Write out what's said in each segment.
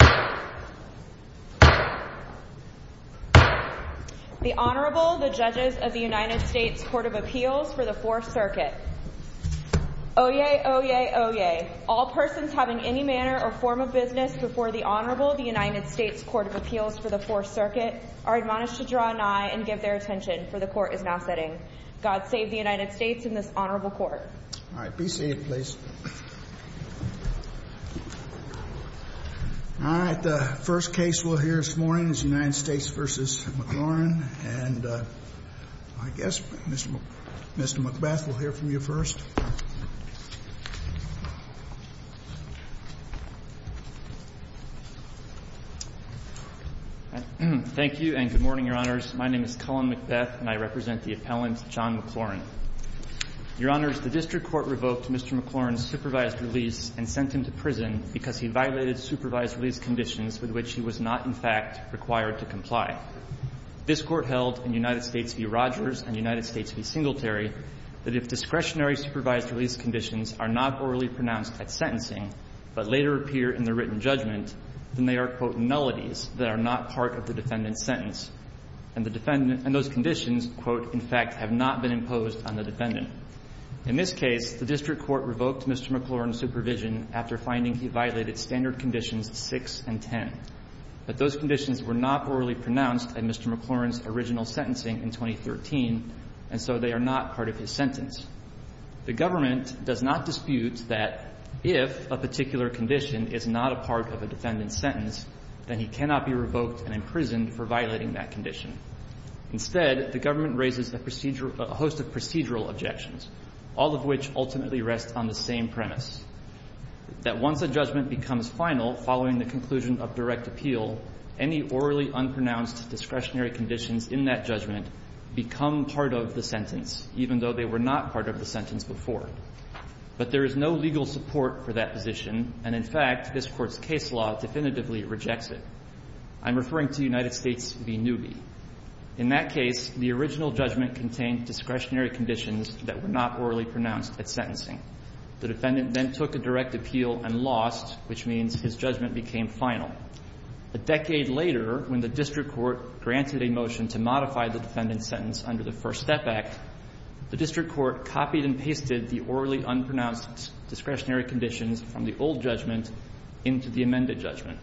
The Honorable, the Judges of the United States Court of Appeals for the Fourth Circuit. Oyez! Oyez! Oyez! All persons having any manner or form of business before the Honorable of the United States Court of Appeals for the Fourth Circuit are admonished to draw nigh and give their attention, for the Court is now setting. God save the United States and this Honorable Court. All right. Be seated, please. All right. The first case we'll hear this morning is United States v. McLaurin. And I guess Mr. McBeth will hear from you first. Thank you and good morning, Your Honors. My name is Cullen McBeth and I represent the appellant John McLaurin. Your Honors, the district court revoked Mr. McLaurin's supervised release and sent him to prison because he violated supervised release conditions with which he was not, in fact, required to comply. This Court held in United States v. Rogers and United States v. Singletary that if discretionary supervised release conditions are not orally pronounced at sentencing but later appear in the written judgment, then they are, quote, nullities that are not part of the defendant's sentence, and the defendant and those conditions, quote, in fact, have not been imposed on the defendant. In this case, the district court revoked Mr. McLaurin's supervision after finding he violated standard conditions 6 and 10, but those conditions were not orally pronounced at Mr. McLaurin's original sentencing in 2013, and so they are not part of his sentence. The government does not dispute that if a particular condition is not a part of a defendant's sentence, the defendant cannot be revoked and imprisoned for violating that condition. Instead, the government raises a procedural – a host of procedural objections, all of which ultimately rest on the same premise, that once a judgment becomes final following the conclusion of direct appeal, any orally unpronounced discretionary conditions in that judgment become part of the sentence, even though they were not a part of the sentence before. But there is no legal support for that position, and in fact, this Court's case law definitively rejects it. I'm referring to United States v. Newby. In that case, the original judgment contained discretionary conditions that were not orally pronounced at sentencing. The defendant then took a direct appeal and lost, which means his judgment became final. A decade later, when the district court granted a motion to modify the defendant's sentence under the First Step Act, the district court copied and pasted the orally unpronounced discretionary conditions from the old judgment into the amended judgment.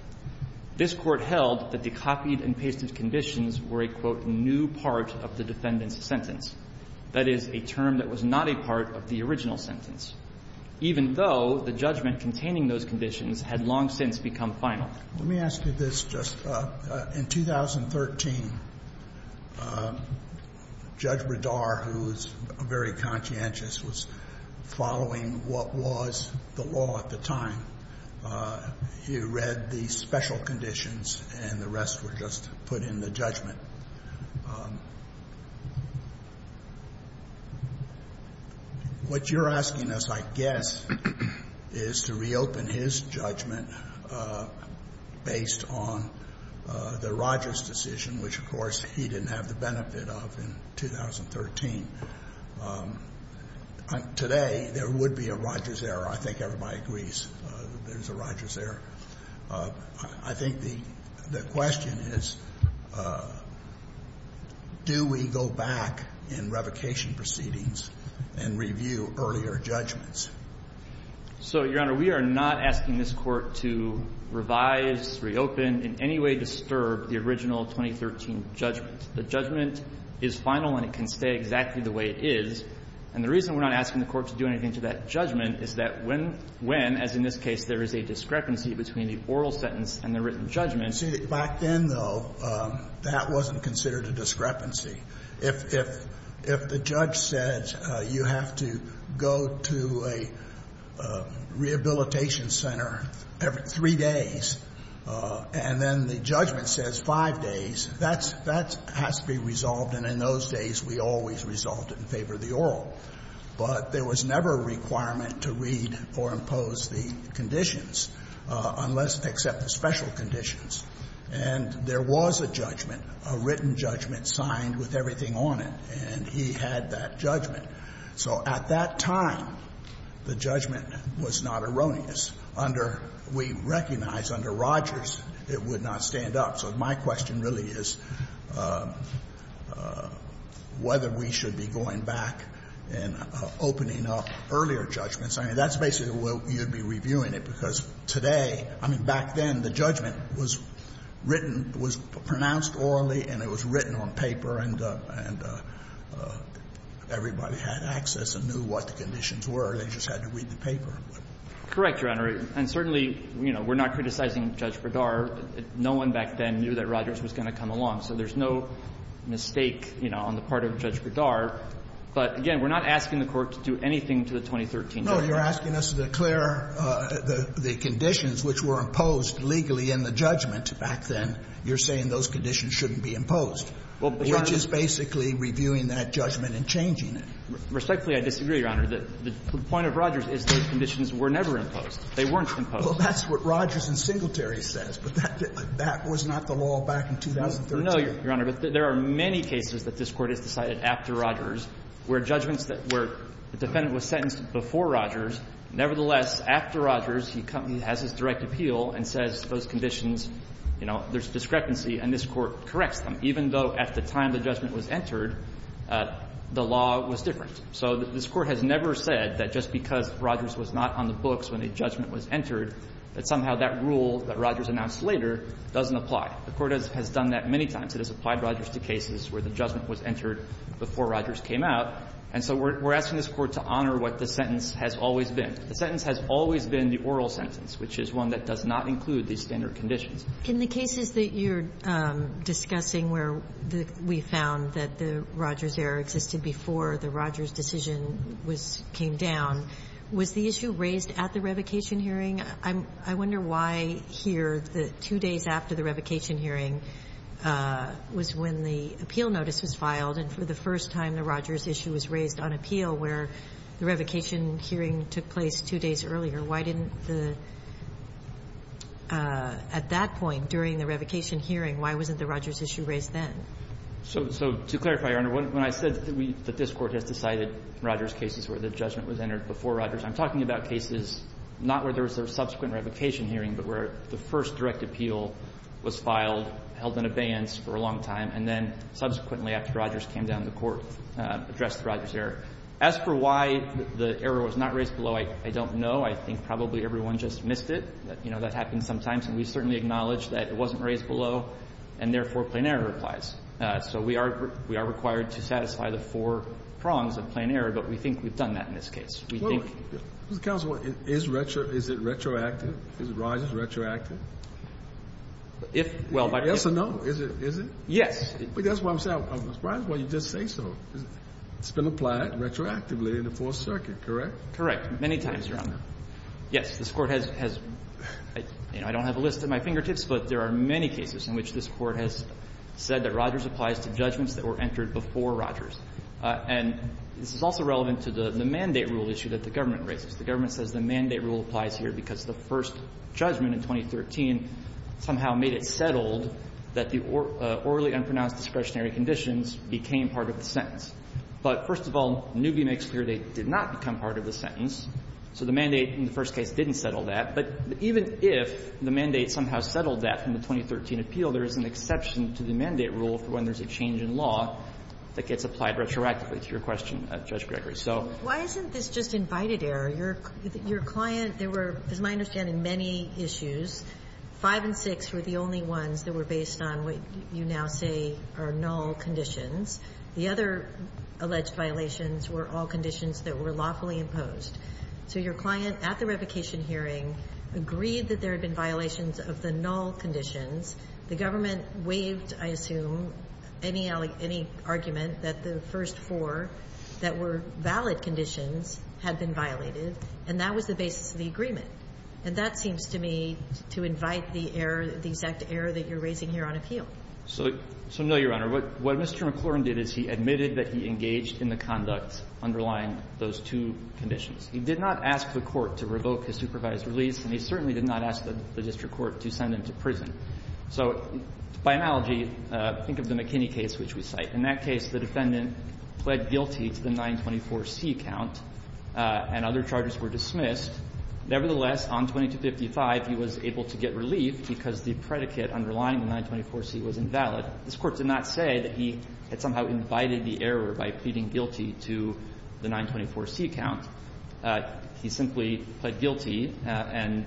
This Court held that the copied and pasted conditions were a, quote, new part of the defendant's sentence, that is, a term that was not a part of the original sentence, even though the judgment containing those conditions had long since become final. Let me ask you this. Just in 2013, Judge Bredar, who was very conscientious, was following what was the law at the time. He read the special conditions, and the rest were just put in the judgment. What you're asking us, I guess, is to reopen his judgment. Based on the Rogers decision, which, of course, he didn't have the benefit of in 2013. Today, there would be a Rogers error. I think everybody agrees there's a Rogers error. I think the question is, do we go back in revocation proceedings and review earlier judgments? So, Your Honor, we are not asking this Court to revise, reopen, in any way disturb the original 2013 judgment. The judgment is final and it can stay exactly the way it is. And the reason we're not asking the Court to do anything to that judgment is that when, as in this case, there is a discrepancy between the oral sentence and the written judgment. See, back then, though, that wasn't considered a discrepancy. If the judge said you have to go to a rehabilitation center every three days, and then the judgment says five days, that has to be resolved. And in those days, we always resolved it in favor of the oral. But there was never a requirement to read or impose the conditions, unless they accept the special conditions. And there was a judgment, a written judgment, signed with everything on it. And he had that judgment. So at that time, the judgment was not erroneous. Under we recognize, under Rogers, it would not stand up. So my question really is whether we should be going back and opening up earlier judgments. I mean, that's basically where you'd be reviewing it. Because today, I mean, back then, the judgment was written, was pronounced orally, and it was written on paper. And everybody had access and knew what the conditions were. They just had to read the paper. Correct, Your Honor. And certainly, you know, we're not criticizing Judge Bradar. No one back then knew that Rogers was going to come along. So there's no mistake, you know, on the part of Judge Bradar. But, again, we're not asking the Court to do anything to the 2013 judgment. You're asking us to declare the conditions which were imposed legally in the judgment back then. You're saying those conditions shouldn't be imposed, which is basically reviewing that judgment and changing it. Respectfully, I disagree, Your Honor. The point of Rogers is those conditions were never imposed. They weren't imposed. Well, that's what Rogers and Singletary says. But that was not the law back in 2013. No, Your Honor. But there are many cases that this Court has decided after Rogers where judgments that were the defendant was sentenced before Rogers, nevertheless, after Rogers, he has his direct appeal and says those conditions, you know, there's discrepancy and this Court corrects them, even though at the time the judgment was entered, the law was different. So this Court has never said that just because Rogers was not on the books when a judgment was entered, that somehow that rule that Rogers announced later doesn't apply. The Court has done that many times. It has applied Rogers to cases where the judgment was entered before Rogers came out, and so we're asking this Court to honor what the sentence has always been. The sentence has always been the oral sentence, which is one that does not include these standard conditions. In the cases that you're discussing where we found that the Rogers error existed before the Rogers decision was came down, was the issue raised at the revocation hearing? I wonder why here, the two days after the revocation hearing was when the appeal notice was filed and for the first time the Rogers issue was raised on appeal where the revocation hearing took place two days earlier, why didn't the at that point during the revocation hearing, why wasn't the Rogers issue raised then? So to clarify, Your Honor, when I said that this Court has decided Rogers cases where the judgment was entered before Rogers, I'm talking about cases not where there was a subsequent revocation hearing, but where the first direct appeal was filed, held in abeyance for a long time, and then subsequently after Rogers came down, the Court addressed the Rogers error. As for why the error was not raised below, I don't know. I think probably everyone just missed it. You know, that happens sometimes, and we certainly acknowledge that it wasn't raised below, and therefore, plain error applies. So we are required to satisfy the four prongs of plain error, but we think we've done that in this case. We think we've done that in this case. Is it retroactive? Is Rogers retroactive? If, well, by the way. Yes or no? Is it? Yes. That's what I'm saying. I'm surprised why you just say so. It's been applied retroactively in the Fourth Circuit, correct? Correct. Many times, Your Honor. Yes, this Court has, you know, I don't have a list at my fingertips, but there are many cases in which this Court has said that Rogers applies to judgments that were entered before Rogers. And this is also relevant to the mandate rule issue that the government raises. The government says the mandate rule applies here because the first judgment in 2013 somehow made it settled that the orally unpronounced discretionary conditions became part of the sentence. But, first of all, Newby makes clear they did not become part of the sentence. So the mandate in the first case didn't settle that. But even if the mandate somehow settled that from the 2013 appeal, there is an exception to the mandate rule for when there's a change in law that gets applied retroactively to your question, Judge Gregory. So why isn't this just invited error? Your client, there were, as I understand it, many issues. Five and six were the only ones that were based on what you now say are null conditions. The other alleged violations were all conditions that were lawfully imposed. So your client at the revocation hearing agreed that there had been violations of the null conditions. The government waived, I assume, any argument that the first four that were valid conditions had been violated, and that was the basis of the agreement. And that seems to me to invite the error, the exact error that you're raising here on appeal. So no, Your Honor. What Mr. McClurin did is he admitted that he engaged in the conducts underlying those two conditions. He did not ask the court to revoke his supervised release, and he certainly did not ask the district court to send him to prison. So by analogy, think of the McKinney case which we cite. In that case, the defendant pled guilty to the 924C count, and other charges were dismissed. Nevertheless, on 2255, he was able to get relief because the predicate underlying the 924C was invalid. This Court did not say that he had somehow invited the error by pleading guilty to the 924C count. He simply pled guilty, and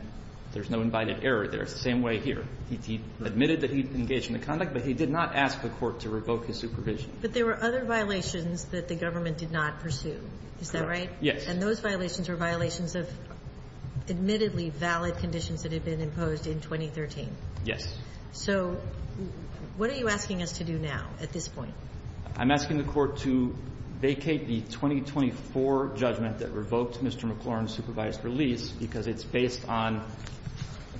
there's no invited error there. It's the same way here. He admitted that he engaged in the conduct, but he did not ask the court to revoke his supervision. But there were other violations that the government did not pursue. Is that right? Yes. And those violations are violations of admittedly valid conditions that had been imposed in 2013. Yes. So what are you asking us to do now at this point? I'm asking the court to vacate the 2024 judgment that revoked Mr. McClurin's supervised release because it's based on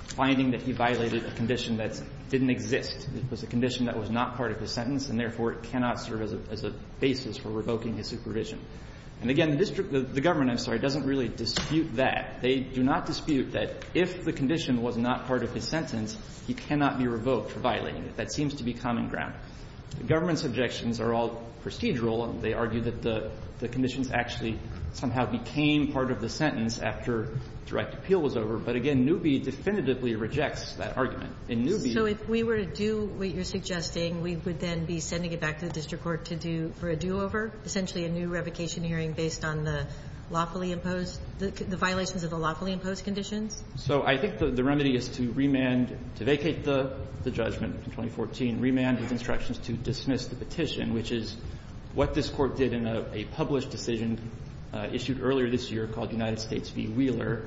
finding that he violated a condition that didn't exist. It was a condition that was not part of his sentence, and therefore, it cannot serve as a basis for revoking his supervision. And again, the district the government, I'm sorry, doesn't really dispute that. They do not dispute that if the condition was not part of his sentence, he cannot be revoked for violating it. That seems to be common ground. The government's objections are all prestigial. They argue that the conditions actually somehow became part of the sentence after direct appeal was over. But again, Newby definitively rejects that argument. In Newby, So if we were to do what you're suggesting, we would then be sending it back to the district court to do for a do-over, essentially a new revocation hearing based on the lawfully imposed, the violations of the lawfully imposed conditions? So I think the remedy is to remand, to vacate the judgment in 2014, remand with instructions to dismiss the petition, which is what this court did in a published decision issued earlier this year called United States v. Wheeler,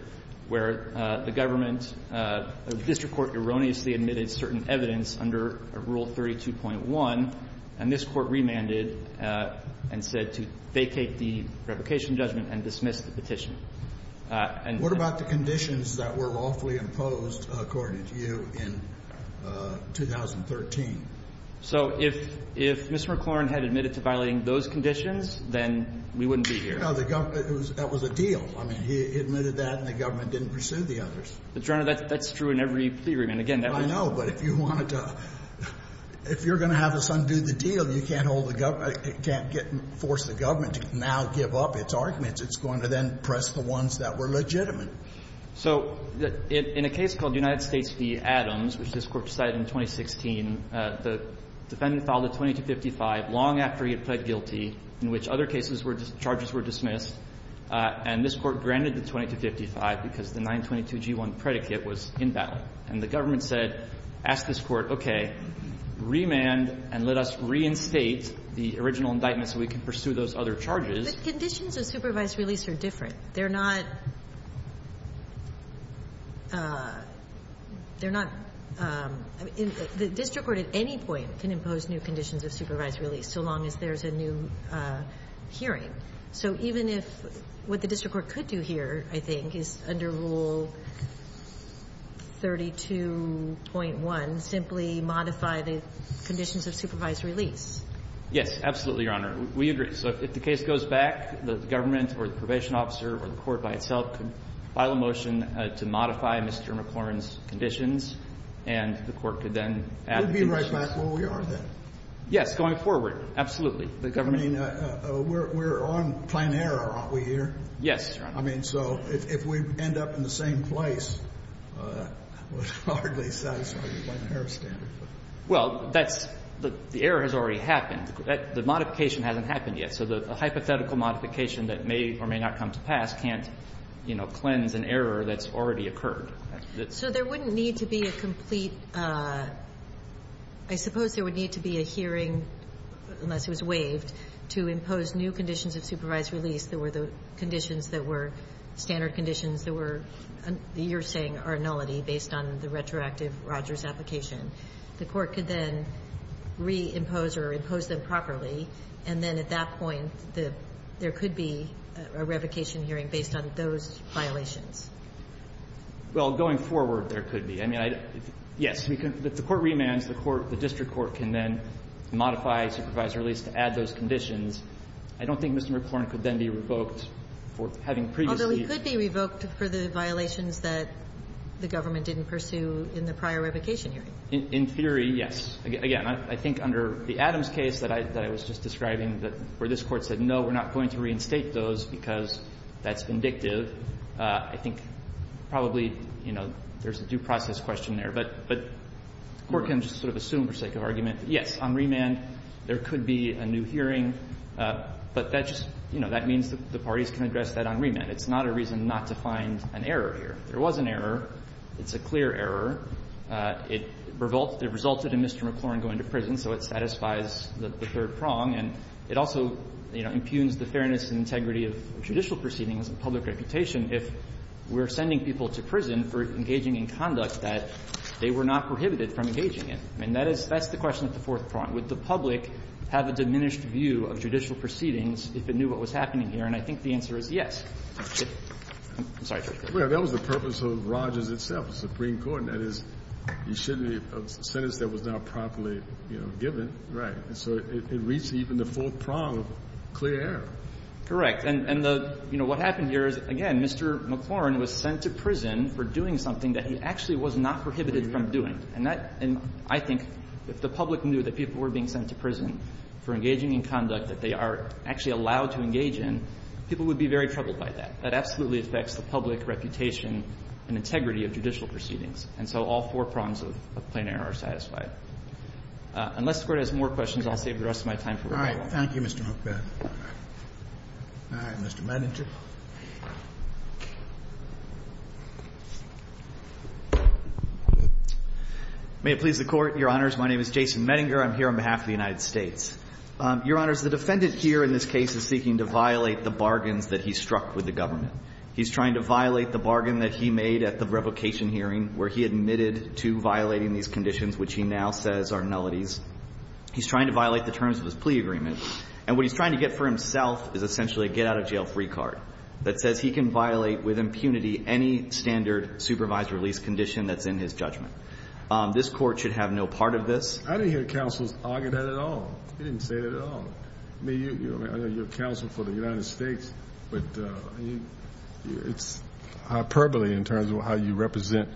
where the government The district court erroneously admitted certain evidence under Rule 32.1, and this court remanded and said to vacate the revocation judgment and dismiss the petition. And what about the conditions that were lawfully imposed, according to you, in 2013? So if Mr. McLaurin had admitted to violating those conditions, then we wouldn't be here. No, that was a deal. I mean, he admitted that, and the government didn't pursue the others. But, Your Honor, that's true in every plea agreement. Again, that would be the case. I know, but if you wanted to – if you're going to have us undo the deal, you can't hold the government – you can't get – force the government to now give up its arguments. It's going to then press the ones that were legitimate. So in a case called United States v. Adams, which this court decided in 2016, the defendant filed a 2255 long after he had pled guilty in which other cases were – charges were dismissed, and this Court granted the 2255 because the 922g1 predicate was inbound. And the government said, ask this Court, okay, remand and let us reinstate the original indictment so we can pursue those other charges. But conditions of supervised release are different. They're not – they're not – the district court at any point can impose new conditions of supervised release so long as there's a new hearing. So even if – what the district court could do here, I think, is under Rule 32.1, simply modify the conditions of supervised release. Yes, absolutely, Your Honor. We agree. So if the case goes back, the government or the probation officer or the court by itself could file a motion to modify Mr. McCormick's conditions, and the court could then add the conditions. We'd be right back where we are then. Yes, going forward, absolutely. The government – I mean, we're on plan error, aren't we here? Yes, Your Honor. I mean, so if we end up in the same place, it hardly says on the error standard. Well, that's – the error has already happened. The modification hasn't happened yet. So the hypothetical modification that may or may not come to pass can't, you know, cleanse an error that's already occurred. So there wouldn't need to be a complete – I suppose there would need to be a hearing unless it was waived to impose new conditions of supervised release that were the conditions that were standard conditions that were, you're saying, are nullity based on the retroactive Rogers application. The court could then reimpose or impose them properly, and then at that point, there could be a revocation hearing based on those violations. Well, going forward, there could be. I mean, I – yes. If the court remands, the court – the district court can then modify supervised release to add those conditions. I don't think Mr. McClorn could then be revoked for having previously – Although he could be revoked for the violations that the government didn't pursue in the prior revocation hearing. In theory, yes. Again, I think under the Adams case that I was just describing, where this Court said, no, we're not going to reinstate those because that's vindictive, I think probably, you know, there's a due process question there. But the court can just sort of assume, for sake of argument, yes, on remand, there could be a new hearing. But that just – you know, that means that the parties can address that on remand. It's not a reason not to find an error here. There was an error. It's a clear error. It resulted in Mr. McClorn going to prison, so it satisfies the third prong. And it also, you know, impugns the fairness and integrity of judicial proceedings and public reputation if we're sending people to prison for engaging in conduct that they were not prohibited from engaging in. And that is – that's the question at the fourth prong. Would the public have a diminished view of judicial proceedings if it knew what was happening here? And I think the answer is yes. I'm sorry, Justice Kennedy. Well, that was the purpose of Rogers itself, the Supreme Court. And that is, you shouldn't have a sentence that was not properly, you know, given. And so it reached even the fourth prong of clear error. Correct. And the – you know, what happened here is, again, Mr. McClorn was sent to prison for doing something that he actually was not prohibited from doing. And that – and I think if the public knew that people were being sent to prison for engaging in conduct that they are actually allowed to engage in, people would be very troubled by that. That absolutely affects the public reputation and integrity of judicial proceedings. And so all four prongs of plain error are satisfied. Unless the Court has more questions, I'll save the rest of my time for rebuttal. Thank you, Mr. Huckabee. All right. Mr. Medinger. May it please the Court, Your Honors. My name is Jason Medinger. I'm here on behalf of the United States. Your Honors, the defendant here in this case is seeking to violate the bargains that he struck with the government. He's trying to violate the bargain that he made at the revocation hearing where he admitted to violating these conditions, which he now says are nullities. He's trying to violate the terms of his plea agreement. And what he's trying to get for himself is essentially a get-out-of-jail-free card that says he can violate with impunity any standard supervised release condition that's in his judgment. This Court should have no part of this. I didn't hear counsel's argument at all. He didn't say that at all. I mean, I know you're counsel for the United States, but it's hyperbole in terms of how you represent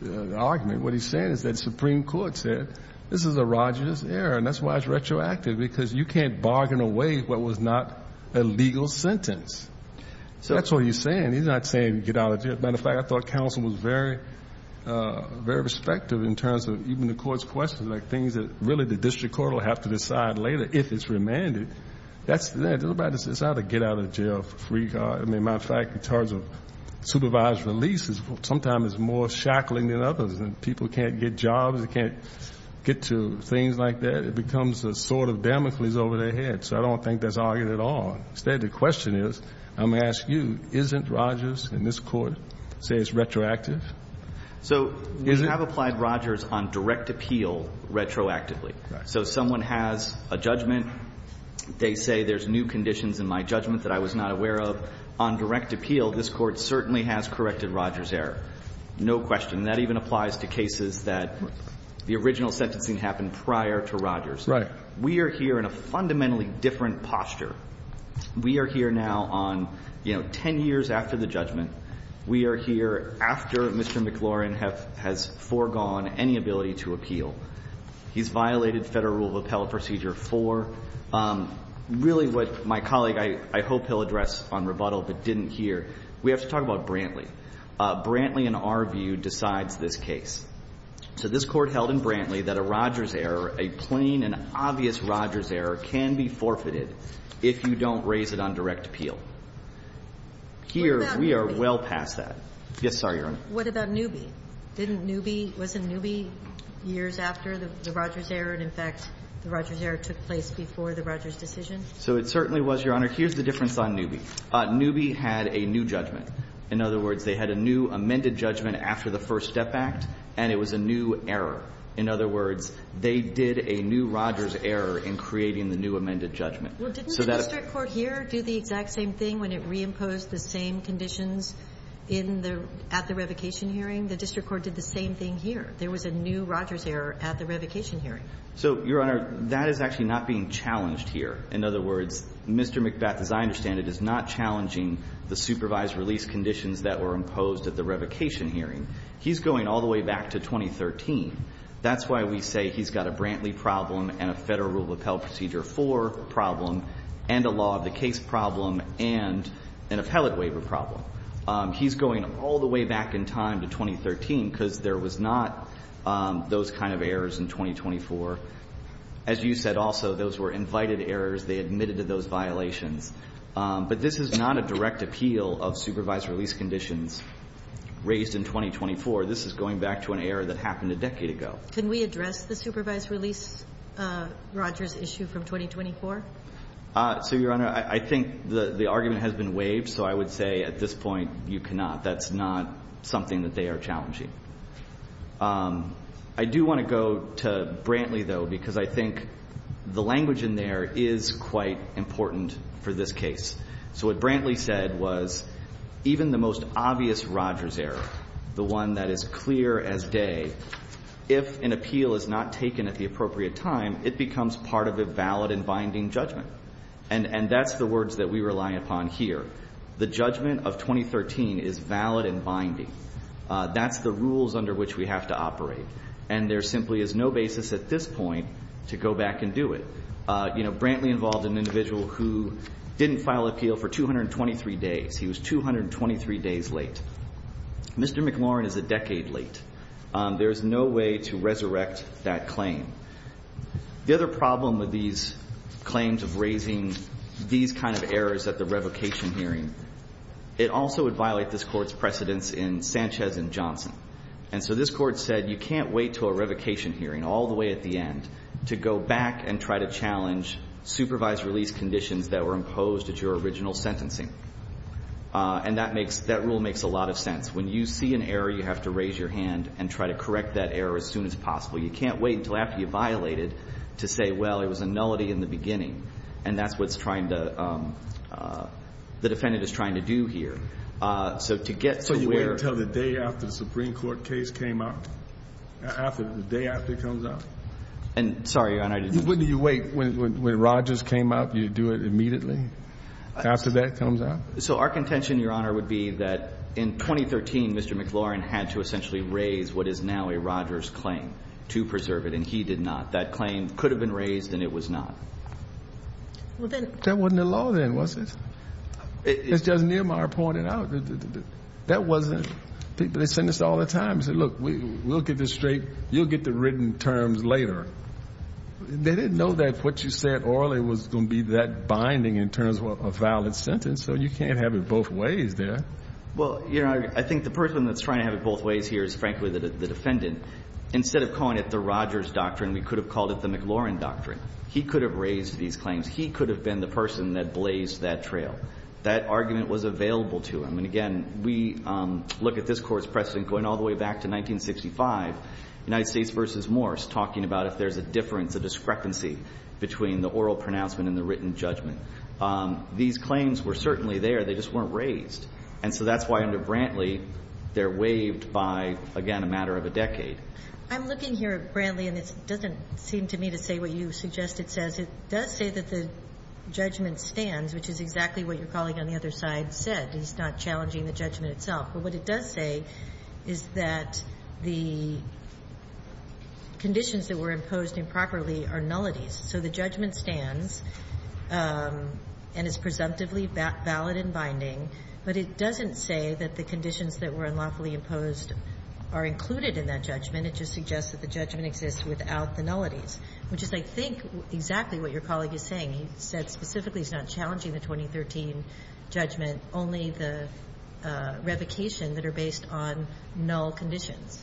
the argument. What he's saying is that the Supreme Court said this is a rodginess error, and that's why it's retroactive, because you can't bargain away what was not a legal sentence. So that's what he's saying. He's not saying get out of jail. As a matter of fact, I thought counsel was very, very respective in terms of even the Court's questions, like things that really the district court will have to decide later if it's remanded. That's that. It's not a get-out-of-jail-free card. I mean, matter of fact, in terms of supervised releases, sometimes it's more shackling than others, and people can't get jobs. They can't get to things like that. It becomes a sword of Damocles over their head. So I don't think that's argued at all. Instead, the question is, I'm going to ask you, isn't Rogers in this Court, say it's retroactive? So we have applied Rogers on direct appeal retroactively. So someone has a judgment. They say there's new conditions in my judgment that I was not aware of. On direct appeal, this Court certainly has corrected Rogers' error. No question. And that even applies to cases that the original sentencing happened prior to Rogers. We are here in a fundamentally different posture. We are here now on, you know, 10 years after the judgment. We are here after Mr. McLaurin has foregone any ability to appeal. He's violated Federal Rule of Appellate Procedure 4. Really what my colleague, I hope he'll address on rebuttal, but didn't here, we have to talk about Brantley. Brantley, in our view, decides this case. So this Court held in Brantley that a Rogers error, a plain and obvious Rogers error, can be forfeited if you don't raise it on direct appeal. Here, we are well past that. Yes, sorry, Your Honor. What about Newby? Didn't Newby – wasn't Newby years after the Rogers error, and, in fact, the Rogers error took place before the Rogers decision? So it certainly was, Your Honor. Here's the difference on Newby. Newby had a new judgment. In other words, they had a new amended judgment after the First Step Act, and it was a new error. In other words, they did a new Rogers error in creating the new amended judgment. So that – Well, didn't the district court here do the exact same thing when it reimposed the same conditions in the – at the revocation hearing? The district court did the same thing here. There was a new Rogers error at the revocation hearing. So, Your Honor, that is actually not being challenged here. In other words, Mr. McBeth, as I understand it, is not challenging the supervised release conditions that were imposed at the revocation hearing. He's going all the way back to 2013. That's why we say he's got a Brantley problem and a Federal Rule of Appell Procedure 4 problem and a law of the case problem and an appellate waiver problem. He's going all the way back in time to 2013 because there was not those kind of errors in 2024. As you said also, those were invited errors. They admitted to those violations. But this is not a direct appeal of supervised release conditions raised in 2024. This is going back to an error that happened a decade ago. Can we address the supervised release Rogers issue from 2024? So, Your Honor, I think the argument has been waived, so I would say at this point you cannot. That's not something that they are challenging. I do want to go to Brantley, though, because I think the language in there is quite important for this case. So what Brantley said was even the most obvious Rogers error, the one that is clear as day, if an appeal is not taken at the appropriate time, it becomes part of a valid and binding judgment. And that's the words that we rely upon here. The judgment of 2013 is valid and binding. That's the rules under which we have to operate. And there simply is no basis at this point to go back and do it. You know, Brantley involved an individual who didn't file appeal for 223 days. He was 223 days late. Mr. McLaurin is a decade late. There is no way to resurrect that claim. The other problem with these claims of raising these kind of errors at the revocation hearing, it also would violate this Court's precedence in Sanchez and Johnson. And so this Court said you can't wait until a revocation hearing all the way at the to go back and try to challenge supervised release conditions that were imposed at your original sentencing. And that rule makes a lot of sense. When you see an error, you have to raise your hand and try to correct that error as soon as possible. You can't wait until after you violate it to say, well, it was a nullity in the And that's what the defendant is trying to do here. So to get to where So you wait until the day after the Supreme Court case came up? The day after it comes up? And sorry, Your Honor. When do you wait? When Rogers came up, you do it immediately? After that comes up? So our contention, Your Honor, would be that in 2013, Mr. McLaurin had to essentially raise what is now a Rogers claim to preserve it. And he did not. That claim could have been raised and it was not. That wasn't a law then, was it? It's just Niemeyer pointed out. That wasn't. They send us all the time. Look, we'll get this straight. You'll get the written terms later. They didn't know that what you said orally was going to be that binding in terms of a valid sentence. So you can't have it both ways there. Well, you know, I think the person that's trying to have it both ways here is frankly the defendant. Instead of calling it the Rogers doctrine, we could have called it the McLaurin doctrine. He could have raised these claims. He could have been the person that blazed that trail. That argument was available to him. And again, we look at this Court's precedent going all the way back to 1965. United States v. Morse talking about if there's a difference, a discrepancy between the oral pronouncement and the written judgment. These claims were certainly there. They just weren't raised. And so that's why under Brantley, they're waived by, again, a matter of a decade. I'm looking here at Brantley and it doesn't seem to me to say what you suggest it says. It does say that the judgment stands, which is exactly what your colleague on the other side said. He's not challenging the judgment itself. But what it does say is that the conditions that were imposed improperly are nullities. So the judgment stands and is presumptively valid and binding. But it doesn't say that the conditions that were unlawfully imposed are included in that judgment. It just suggests that the judgment exists without the nullities, which is, I think, exactly what your colleague is saying. He said specifically he's not challenging the 2013 judgment. Only the revocation that are based on null conditions.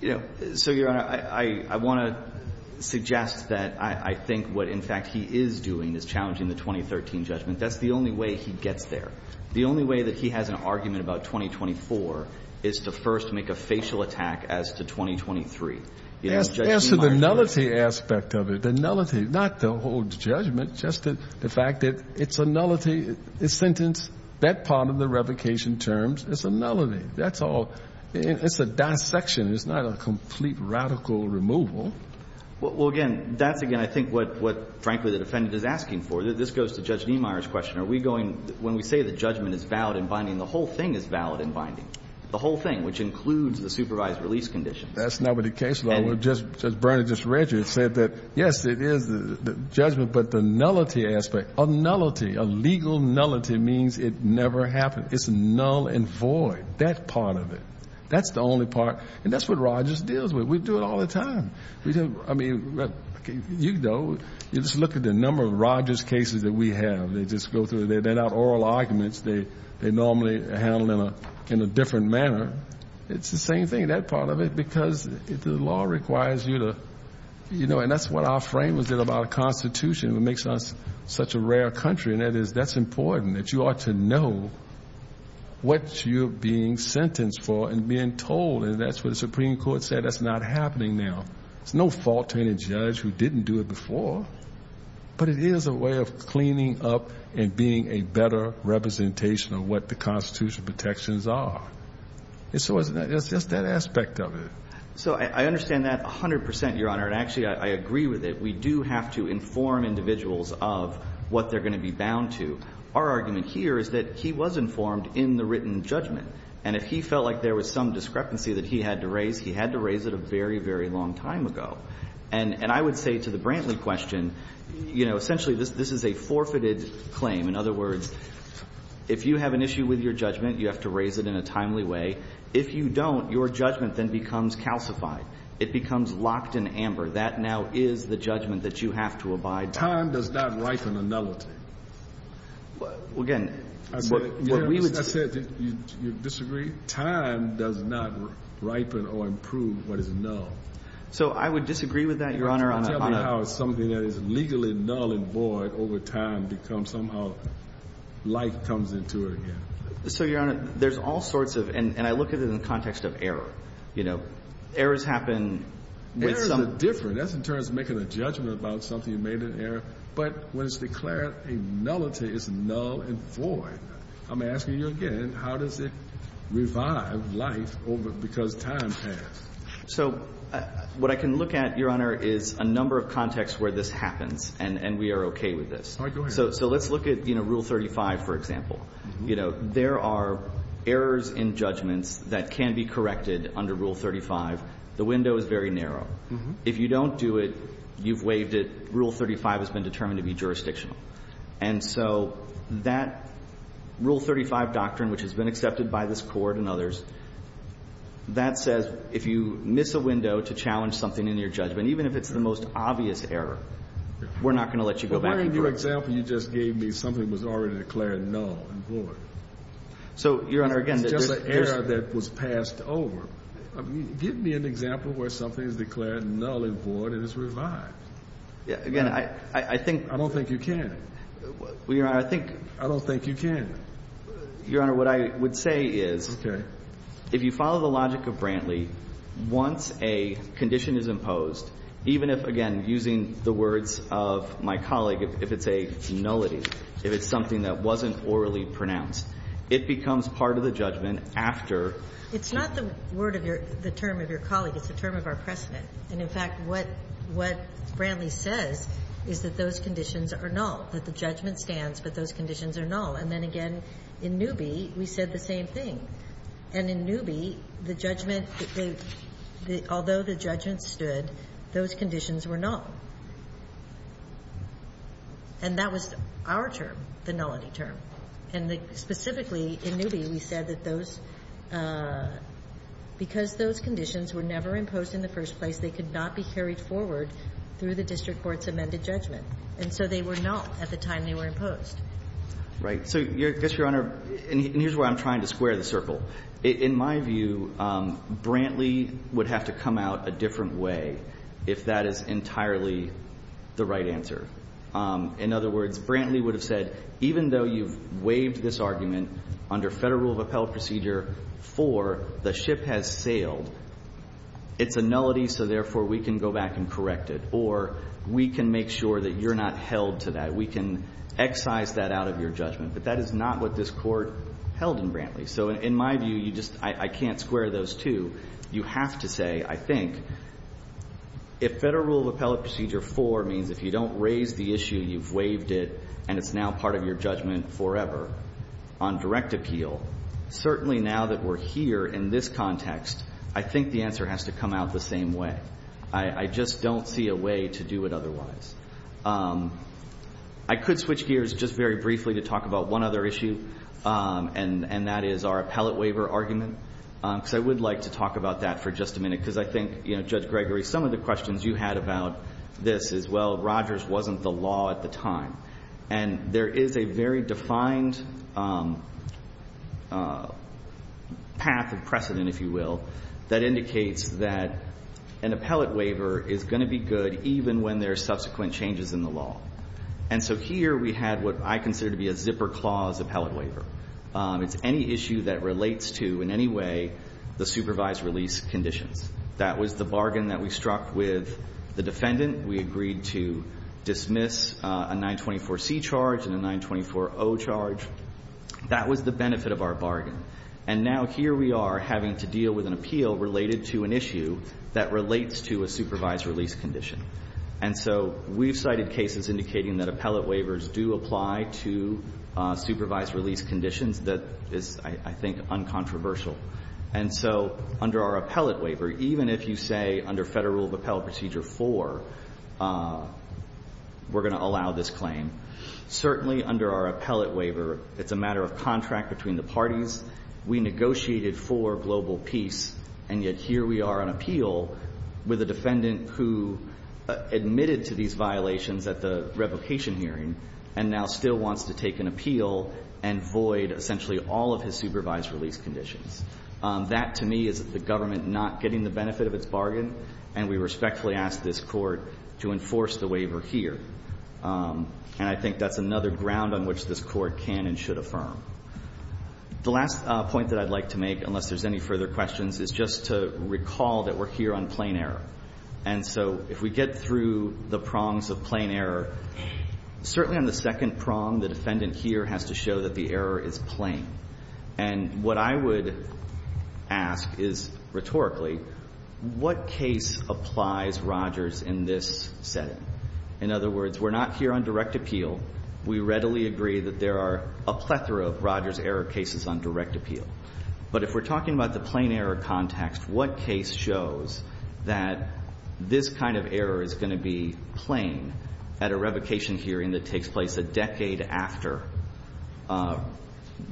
You know, so, Your Honor, I want to suggest that I think what, in fact, he is doing is challenging the 2013 judgment. That's the only way he gets there. The only way that he has an argument about 2024 is to first make a facial attack as to 2023. You know, Judge Schumacher does that. As to the nullity aspect of it, the nullity, not the whole judgment, just the fact that it's a nullity, the sentence, that part of the revocation terms is a nullity. That's all. It's a dissection. It's not a complete radical removal. Well, again, that's, again, I think what, frankly, the defendant is asking for. This goes to Judge Niemeyer's question. Are we going, when we say the judgment is valid and binding, the whole thing is valid and binding, the whole thing, which includes the supervised release conditions. That's not what the case law was. Judge Burnett just read you. It said that, yes, it is the judgment, but the nullity aspect, a nullity, a legal nullity means it never happened. It's null and void. That part of it. That's the only part. And that's what Rogers deals with. We do it all the time. I mean, you know, you just look at the number of Rogers cases that we have. They just go through. They let out oral arguments. They normally handle them in a different manner. It's the same thing, that part of it, because the law requires you to, you know, and that's what our framers did about the Constitution. It makes us such a rare country. And that is, that's important, that you ought to know what you're being sentenced for and being told. And that's what the Supreme Court said. That's not happening now. It's no fault to any judge who didn't do it before. But it is a way of cleaning up and being a better representation of what the constitutional protections are. It's just that aspect of it. So I understand that 100%, Your Honor. And actually, I agree with it. We do have to inform individuals of what they're going to be bound to. Our argument here is that he was informed in the written judgment. And if he felt like there was some discrepancy that he had to raise, he had to raise it a very, very long time ago. And I would say to the Brantley question, you know, essentially, this is a forfeited claim. In other words, if you have an issue with your judgment, you have to raise it in a timely way. If you don't, your judgment then becomes calcified. It becomes locked in amber. That now is the judgment that you have to abide by. Time does not ripen a nullity. Well, again, what we would say. You disagree? Time does not ripen or improve what is null. So I would disagree with that, Your Honor. Tell me how something that is legally null and void over time becomes somehow null and void, and then life comes into it again. So, Your Honor, there's all sorts of – and I look at it in the context of error. You know, errors happen with some. Errors are different. That's in terms of making a judgment about something you made in error. But when it's declared a nullity, it's null and void. I'm asking you again, how does it revive life over – because time has? So what I can look at, Your Honor, is a number of contexts where this happens, and we are okay with this. All right. Let's look at, you know, Rule 35, for example. You know, there are errors in judgments that can be corrected under Rule 35. The window is very narrow. If you don't do it, you've waived it. Rule 35 has been determined to be jurisdictional. And so that Rule 35 doctrine, which has been accepted by this Court and others, that says if you miss a window to challenge something in your judgment, even if it's the most obvious error, we're not going to let you go back. For example, you just gave me something that was already declared null and void. So, Your Honor, again, this is just an error that was passed over. Give me an example where something is declared null and void and it's revived. Again, I think – I don't think you can. Well, Your Honor, I think – I don't think you can. Your Honor, what I would say is – Okay. If you follow the logic of Brantley, once a condition is imposed, even if, again, using the words of my colleague, if it's a nullity, if it's something that wasn't orally pronounced, it becomes part of the judgment after – It's not the word of your – the term of your colleague. It's the term of our precedent. And, in fact, what – what Brantley says is that those conditions are null, that the judgment stands, but those conditions are null. And then, again, in Newby, we said the same thing. And in Newby, the judgment – although the judgment stood, those conditions were null. And that was our term, the nullity term. And the – specifically, in Newby, we said that those – because those conditions were never imposed in the first place, they could not be carried forward through the district court's amended judgment. And so they were null at the time they were imposed. Right. So I guess, Your Honor – and here's where I'm trying to square the circle. In my view, Brantley would have to come out a different way if that is entirely the right answer. In other words, Brantley would have said, even though you've waived this argument under Federal rule of appellate procedure for the ship has sailed, it's a nullity, so, therefore, we can go back and correct it. Or we can make sure that you're not held to that. We can excise that out of your judgment. But that is not what this Court held in Brantley. So in my view, you just – I can't square those two. You have to say, I think, if Federal rule of appellate procedure 4 means if you don't raise the issue, you've waived it, and it's now part of your judgment forever on direct appeal, certainly now that we're here in this context, I think the answer has to come out the same way. I just don't see a way to do it otherwise. I could switch gears just very briefly to talk about one other issue, and that is our appellate waiver argument, because I would like to talk about that for just a minute, because I think, Judge Gregory, some of the questions you had about this is, well, Rogers wasn't the law at the time. And there is a very defined path of precedent, if you will, that indicates that an appellate And so here we had what I consider to be a zipper clause appellate waiver. It's any issue that relates to, in any way, the supervised release conditions. That was the bargain that we struck with the defendant. We agreed to dismiss a 924C charge and a 924O charge. That was the benefit of our bargain. And now here we are having to deal with an appeal related to an issue that relates to a supervised release condition. And so we've cited cases indicating that appellate waivers do apply to supervised release conditions that is, I think, uncontroversial. And so under our appellate waiver, even if you say under Federal Rule of Appellate Procedure 4, we're going to allow this claim, certainly under our appellate waiver, it's a matter of contract between the parties. We negotiated for global peace, and yet here we are on appeal with a defendant who admitted to these violations at the revocation hearing and now still wants to take an appeal and void essentially all of his supervised release conditions. That, to me, is the government not getting the benefit of its bargain, and we respectfully ask this Court to enforce the waiver here. And I think that's another ground on which this Court can and should affirm. The last point that I'd like to make, unless there's any further questions, is just to recall that we're here on plain error. And so if we get through the prongs of plain error, certainly on the second prong, the defendant here has to show that the error is plain. And what I would ask is, rhetorically, what case applies Rogers in this setting? In other words, we're not here on direct appeal. We readily agree that there are a plethora of Rogers error cases on direct appeal. But if we're talking about the plain error context, what case shows that this kind of error is going to be plain at a revocation hearing that takes place a decade after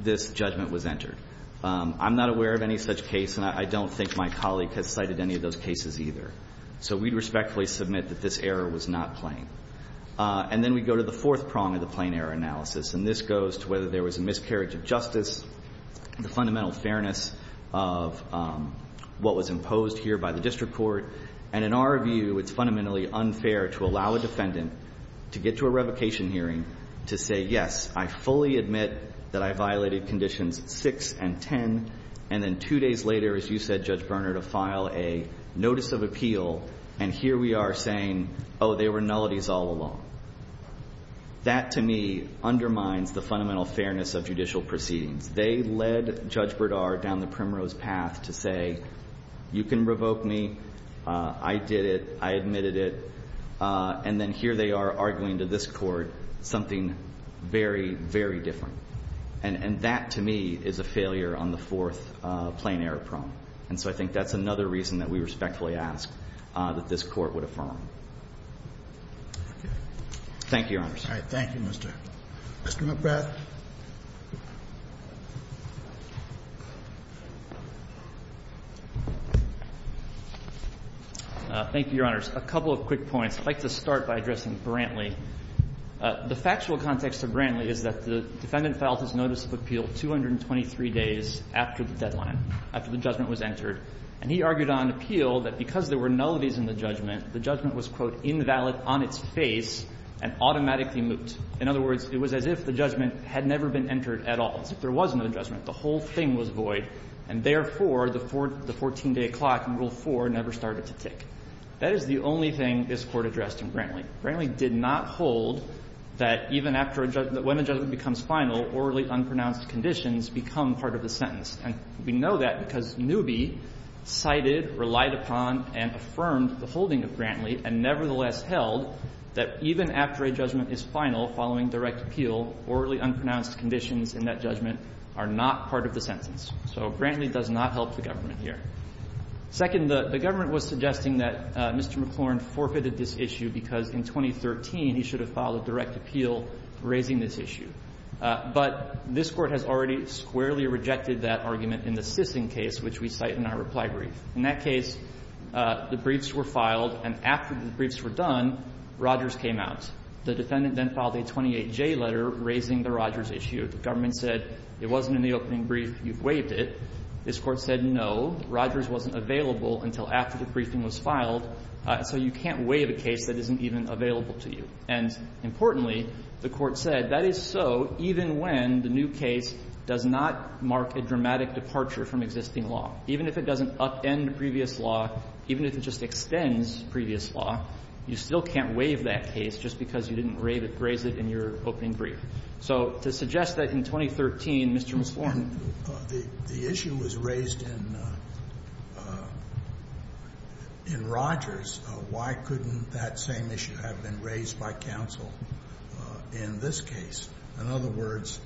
this judgment was entered? I'm not aware of any such case, and I don't think my colleague has cited any of those cases either. So we'd respectfully submit that this error was not plain. And then we go to the fourth prong of the plain error analysis, and this goes to whether there was a miscarriage of justice, the fundamental fairness of what was imposed here by the district court. And in our view, it's fundamentally unfair to allow a defendant to get to a revocation hearing to say, yes, I fully admit that I violated Conditions 6 and 10, and then two days later, as you said, Judge Berner, to file a notice of appeal, and here we are saying, oh, they were nullities all along. That, to me, undermines the fundamental fairness of judicial proceedings. They led Judge Berdard down the primrose path to say, you can revoke me. I did it. I admitted it. And then here they are arguing to this Court something very, very different. And that, to me, is a failure on the fourth plain error prong. And so I think that's another reason that we respectfully ask that this Court would affirm. Thank you, Your Honors. All right. Thank you, Mr. McBride. Thank you, Your Honors. A couple of quick points. I'd like to start by addressing Brantley. The factual context of Brantley is that the defendant filed his notice of appeal 223 days after the deadline, after the judgment was entered. And he argued on appeal that because there were nullities in the judgment, the judgment was, quote, invalid on its face and automatically moot. In other words, it was as if the judgment had never been entered at all. As if there was no judgment. The whole thing was void. And, therefore, the 14-day clock in Rule 4 never started to tick. That is the only thing this Court addressed in Brantley. Brantley did not hold that even after a judgment, when a judgment becomes final, orally unpronounced conditions become part of the sentence. And we know that because Newby cited, relied upon, and affirmed the holding of Brantley and nevertheless held that even after a judgment is final, following direct appeal, orally unpronounced conditions in that judgment are not part of the sentence. So Brantley does not help the government here. Second, the government was suggesting that Mr. McClorn forfeited this issue because in 2013 he should have filed a direct appeal raising this issue. But this Court has already squarely rejected that argument in the Sissing case, which we cite in our reply brief. In that case, the briefs were filed, and after the briefs were done, Rogers came out. The defendant then filed a 28J letter raising the Rogers issue. The government said it wasn't in the opening brief, you've waived it. This Court said no, Rogers wasn't available until after the briefing was filed. So you can't waive a case that isn't even available to you. And, importantly, the Court said that is so even when the new case does not mark a dramatic departure from existing law. Even if it doesn't upend previous law, even if it just extends previous law, you still can't waive that case just because you didn't raise it in your opening brief. So to suggest that in 2013, Mr. McClorn. The issue was raised in Rogers. Why couldn't that same issue have been raised by counsel in this case? In other words,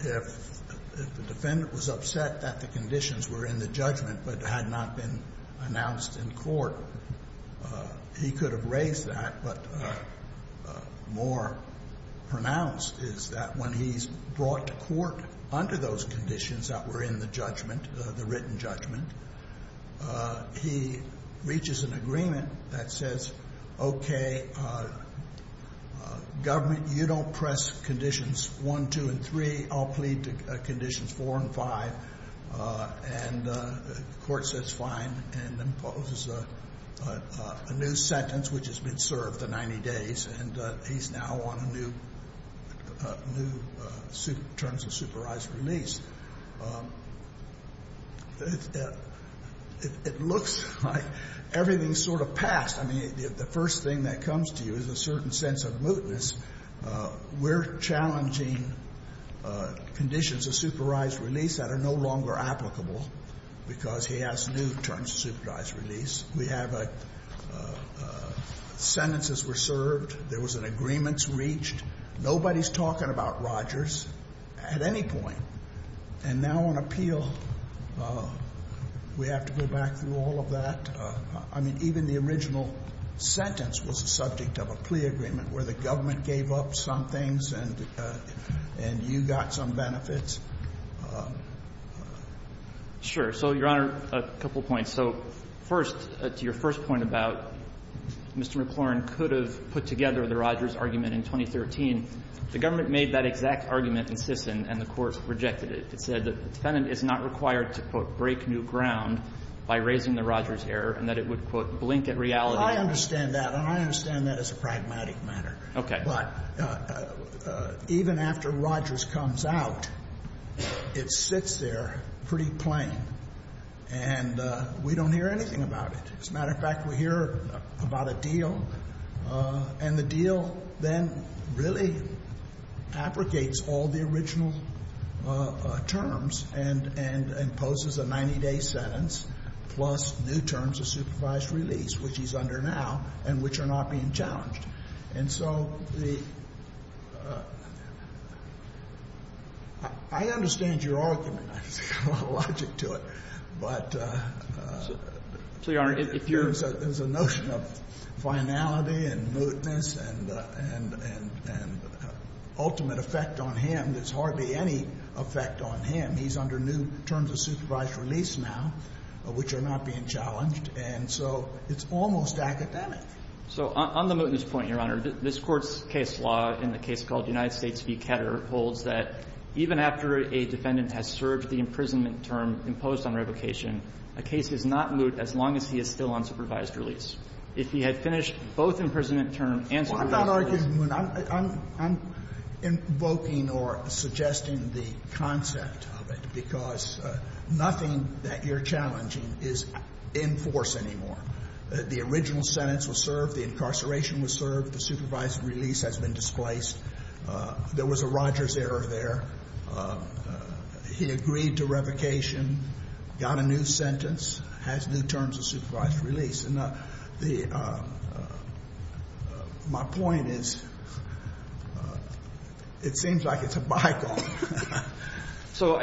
if the defendant was upset that the conditions were in the judgment but had not been announced in court, he could have raised that, but more pronounced is that when he's brought to court under those conditions that were in the judgment, the written judgment, he reaches an agreement that says, okay, government, you don't press conditions 1, 2, and 3, I'll plead to conditions 4 and 5, and the Court says fine and imposes a new sentence, which has been served the 90 days, and he's now on a new terms of supervised release. It looks like everything's sort of passed. I mean, the first thing that comes to you is a certain sense of mootness. We're challenging conditions of supervised release that are no longer applicable because he has new terms of supervised release. We have a sentences were served. There was an agreements reached. Nobody's talking about Rogers at any point. And now on appeal, we have to go back through all of that. I mean, even the original sentence was a subject of a plea agreement where the government gave up some things and you got some benefits. Sure. So, Your Honor, a couple points. So first, to your first point about Mr. McClurin could have put together the Rogers argument in 2013, the government made that exact argument in Sisson and the Court rejected it. It said that the defendant is not required to, quote, break new ground by raising the Rogers error and that it would, quote, blink at reality. I understand that. And I understand that as a pragmatic matter. Okay. But even after Rogers comes out, it sits there pretty plain, and we don't hear anything about it. As a matter of fact, we hear about a deal, and the deal then really abrogates all the original terms and imposes a 90-day sentence, plus new terms of supervised release, which he's under now and which are not being challenged. And so the — I understand your argument. I just got a lot of logic to it. But, Your Honor, if you're — The originality and mootness and ultimate effect on him, there's hardly any effect on him. He's under new terms of supervised release now, which are not being challenged, and so it's almost academic. So on the mootness point, Your Honor, this Court's case law in the case called United States v. Ketter holds that even after a defendant has served the imprisonment term imposed on revocation, a case is not moot as long as he is still on supervised release. If he had finished both imprisonment terms and served the imprisonment term he would Sotomayor, I'm not arguing, I'm invoking or suggesting the concept of it, because nothing that you're challenging is in force anymore. The original sentence was served, the incarceration was served, the supervised release has been displaced. There was a Rogers error there. He agreed to revocation, got a new sentence, has new terms of supervised release. And the my point is it seems like it's a bygone. So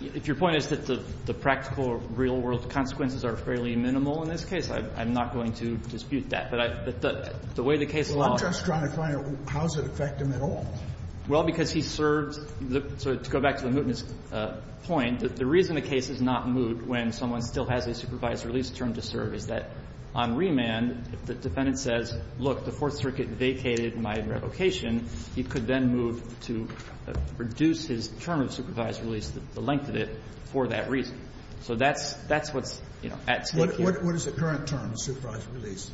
if your point is that the practical real world consequences are fairly minimal in this case, I'm not going to dispute that. But the way the case law is. I'm just trying to find out how does it affect him at all? Well, because he served, so to go back to the mootness point, the reason the case does not moot when someone still has a supervised release term to serve is that on remand, if the defendant says, look, the Fourth Circuit vacated my revocation, he could then move to reduce his term of supervised release, the length of it, for that reason. So that's what's at stake here. What is the current term, supervised release?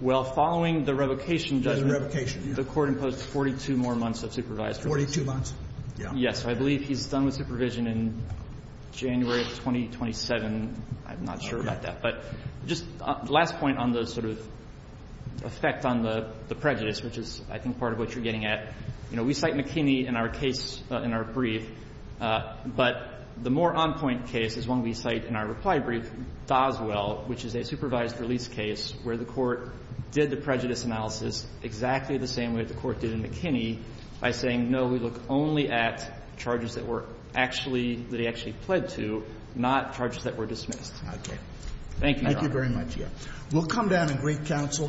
Well, following the revocation judgment, the Court imposed 42 more months of supervised release. Forty-two months? Yeah. So I believe he's done with supervision in January of 2027. I'm not sure about that. But just last point on the sort of effect on the prejudice, which is, I think, part of what you're getting at, you know, we cite McKinney in our case, in our brief, but the more on-point case is one we cite in our reply brief, Doswell, which is a supervised release case where the Court did the prejudice analysis exactly the same way the Court did in McKinney, by saying, no, we look only at charges that were actually – that he actually pled to, not charges that were dismissed. Thank you, Your Honor. Thank you very much, yeah. We'll come down and greet counsel.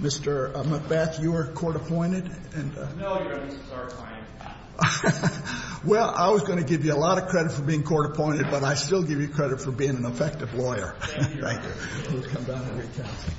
Mr. McBeth, you were court-appointed. No, Your Honor, this is our time. Well, I was going to give you a lot of credit for being court-appointed, but I still give you credit for being an effective lawyer. Thank you. We'll come down and greet counsel. Thank you.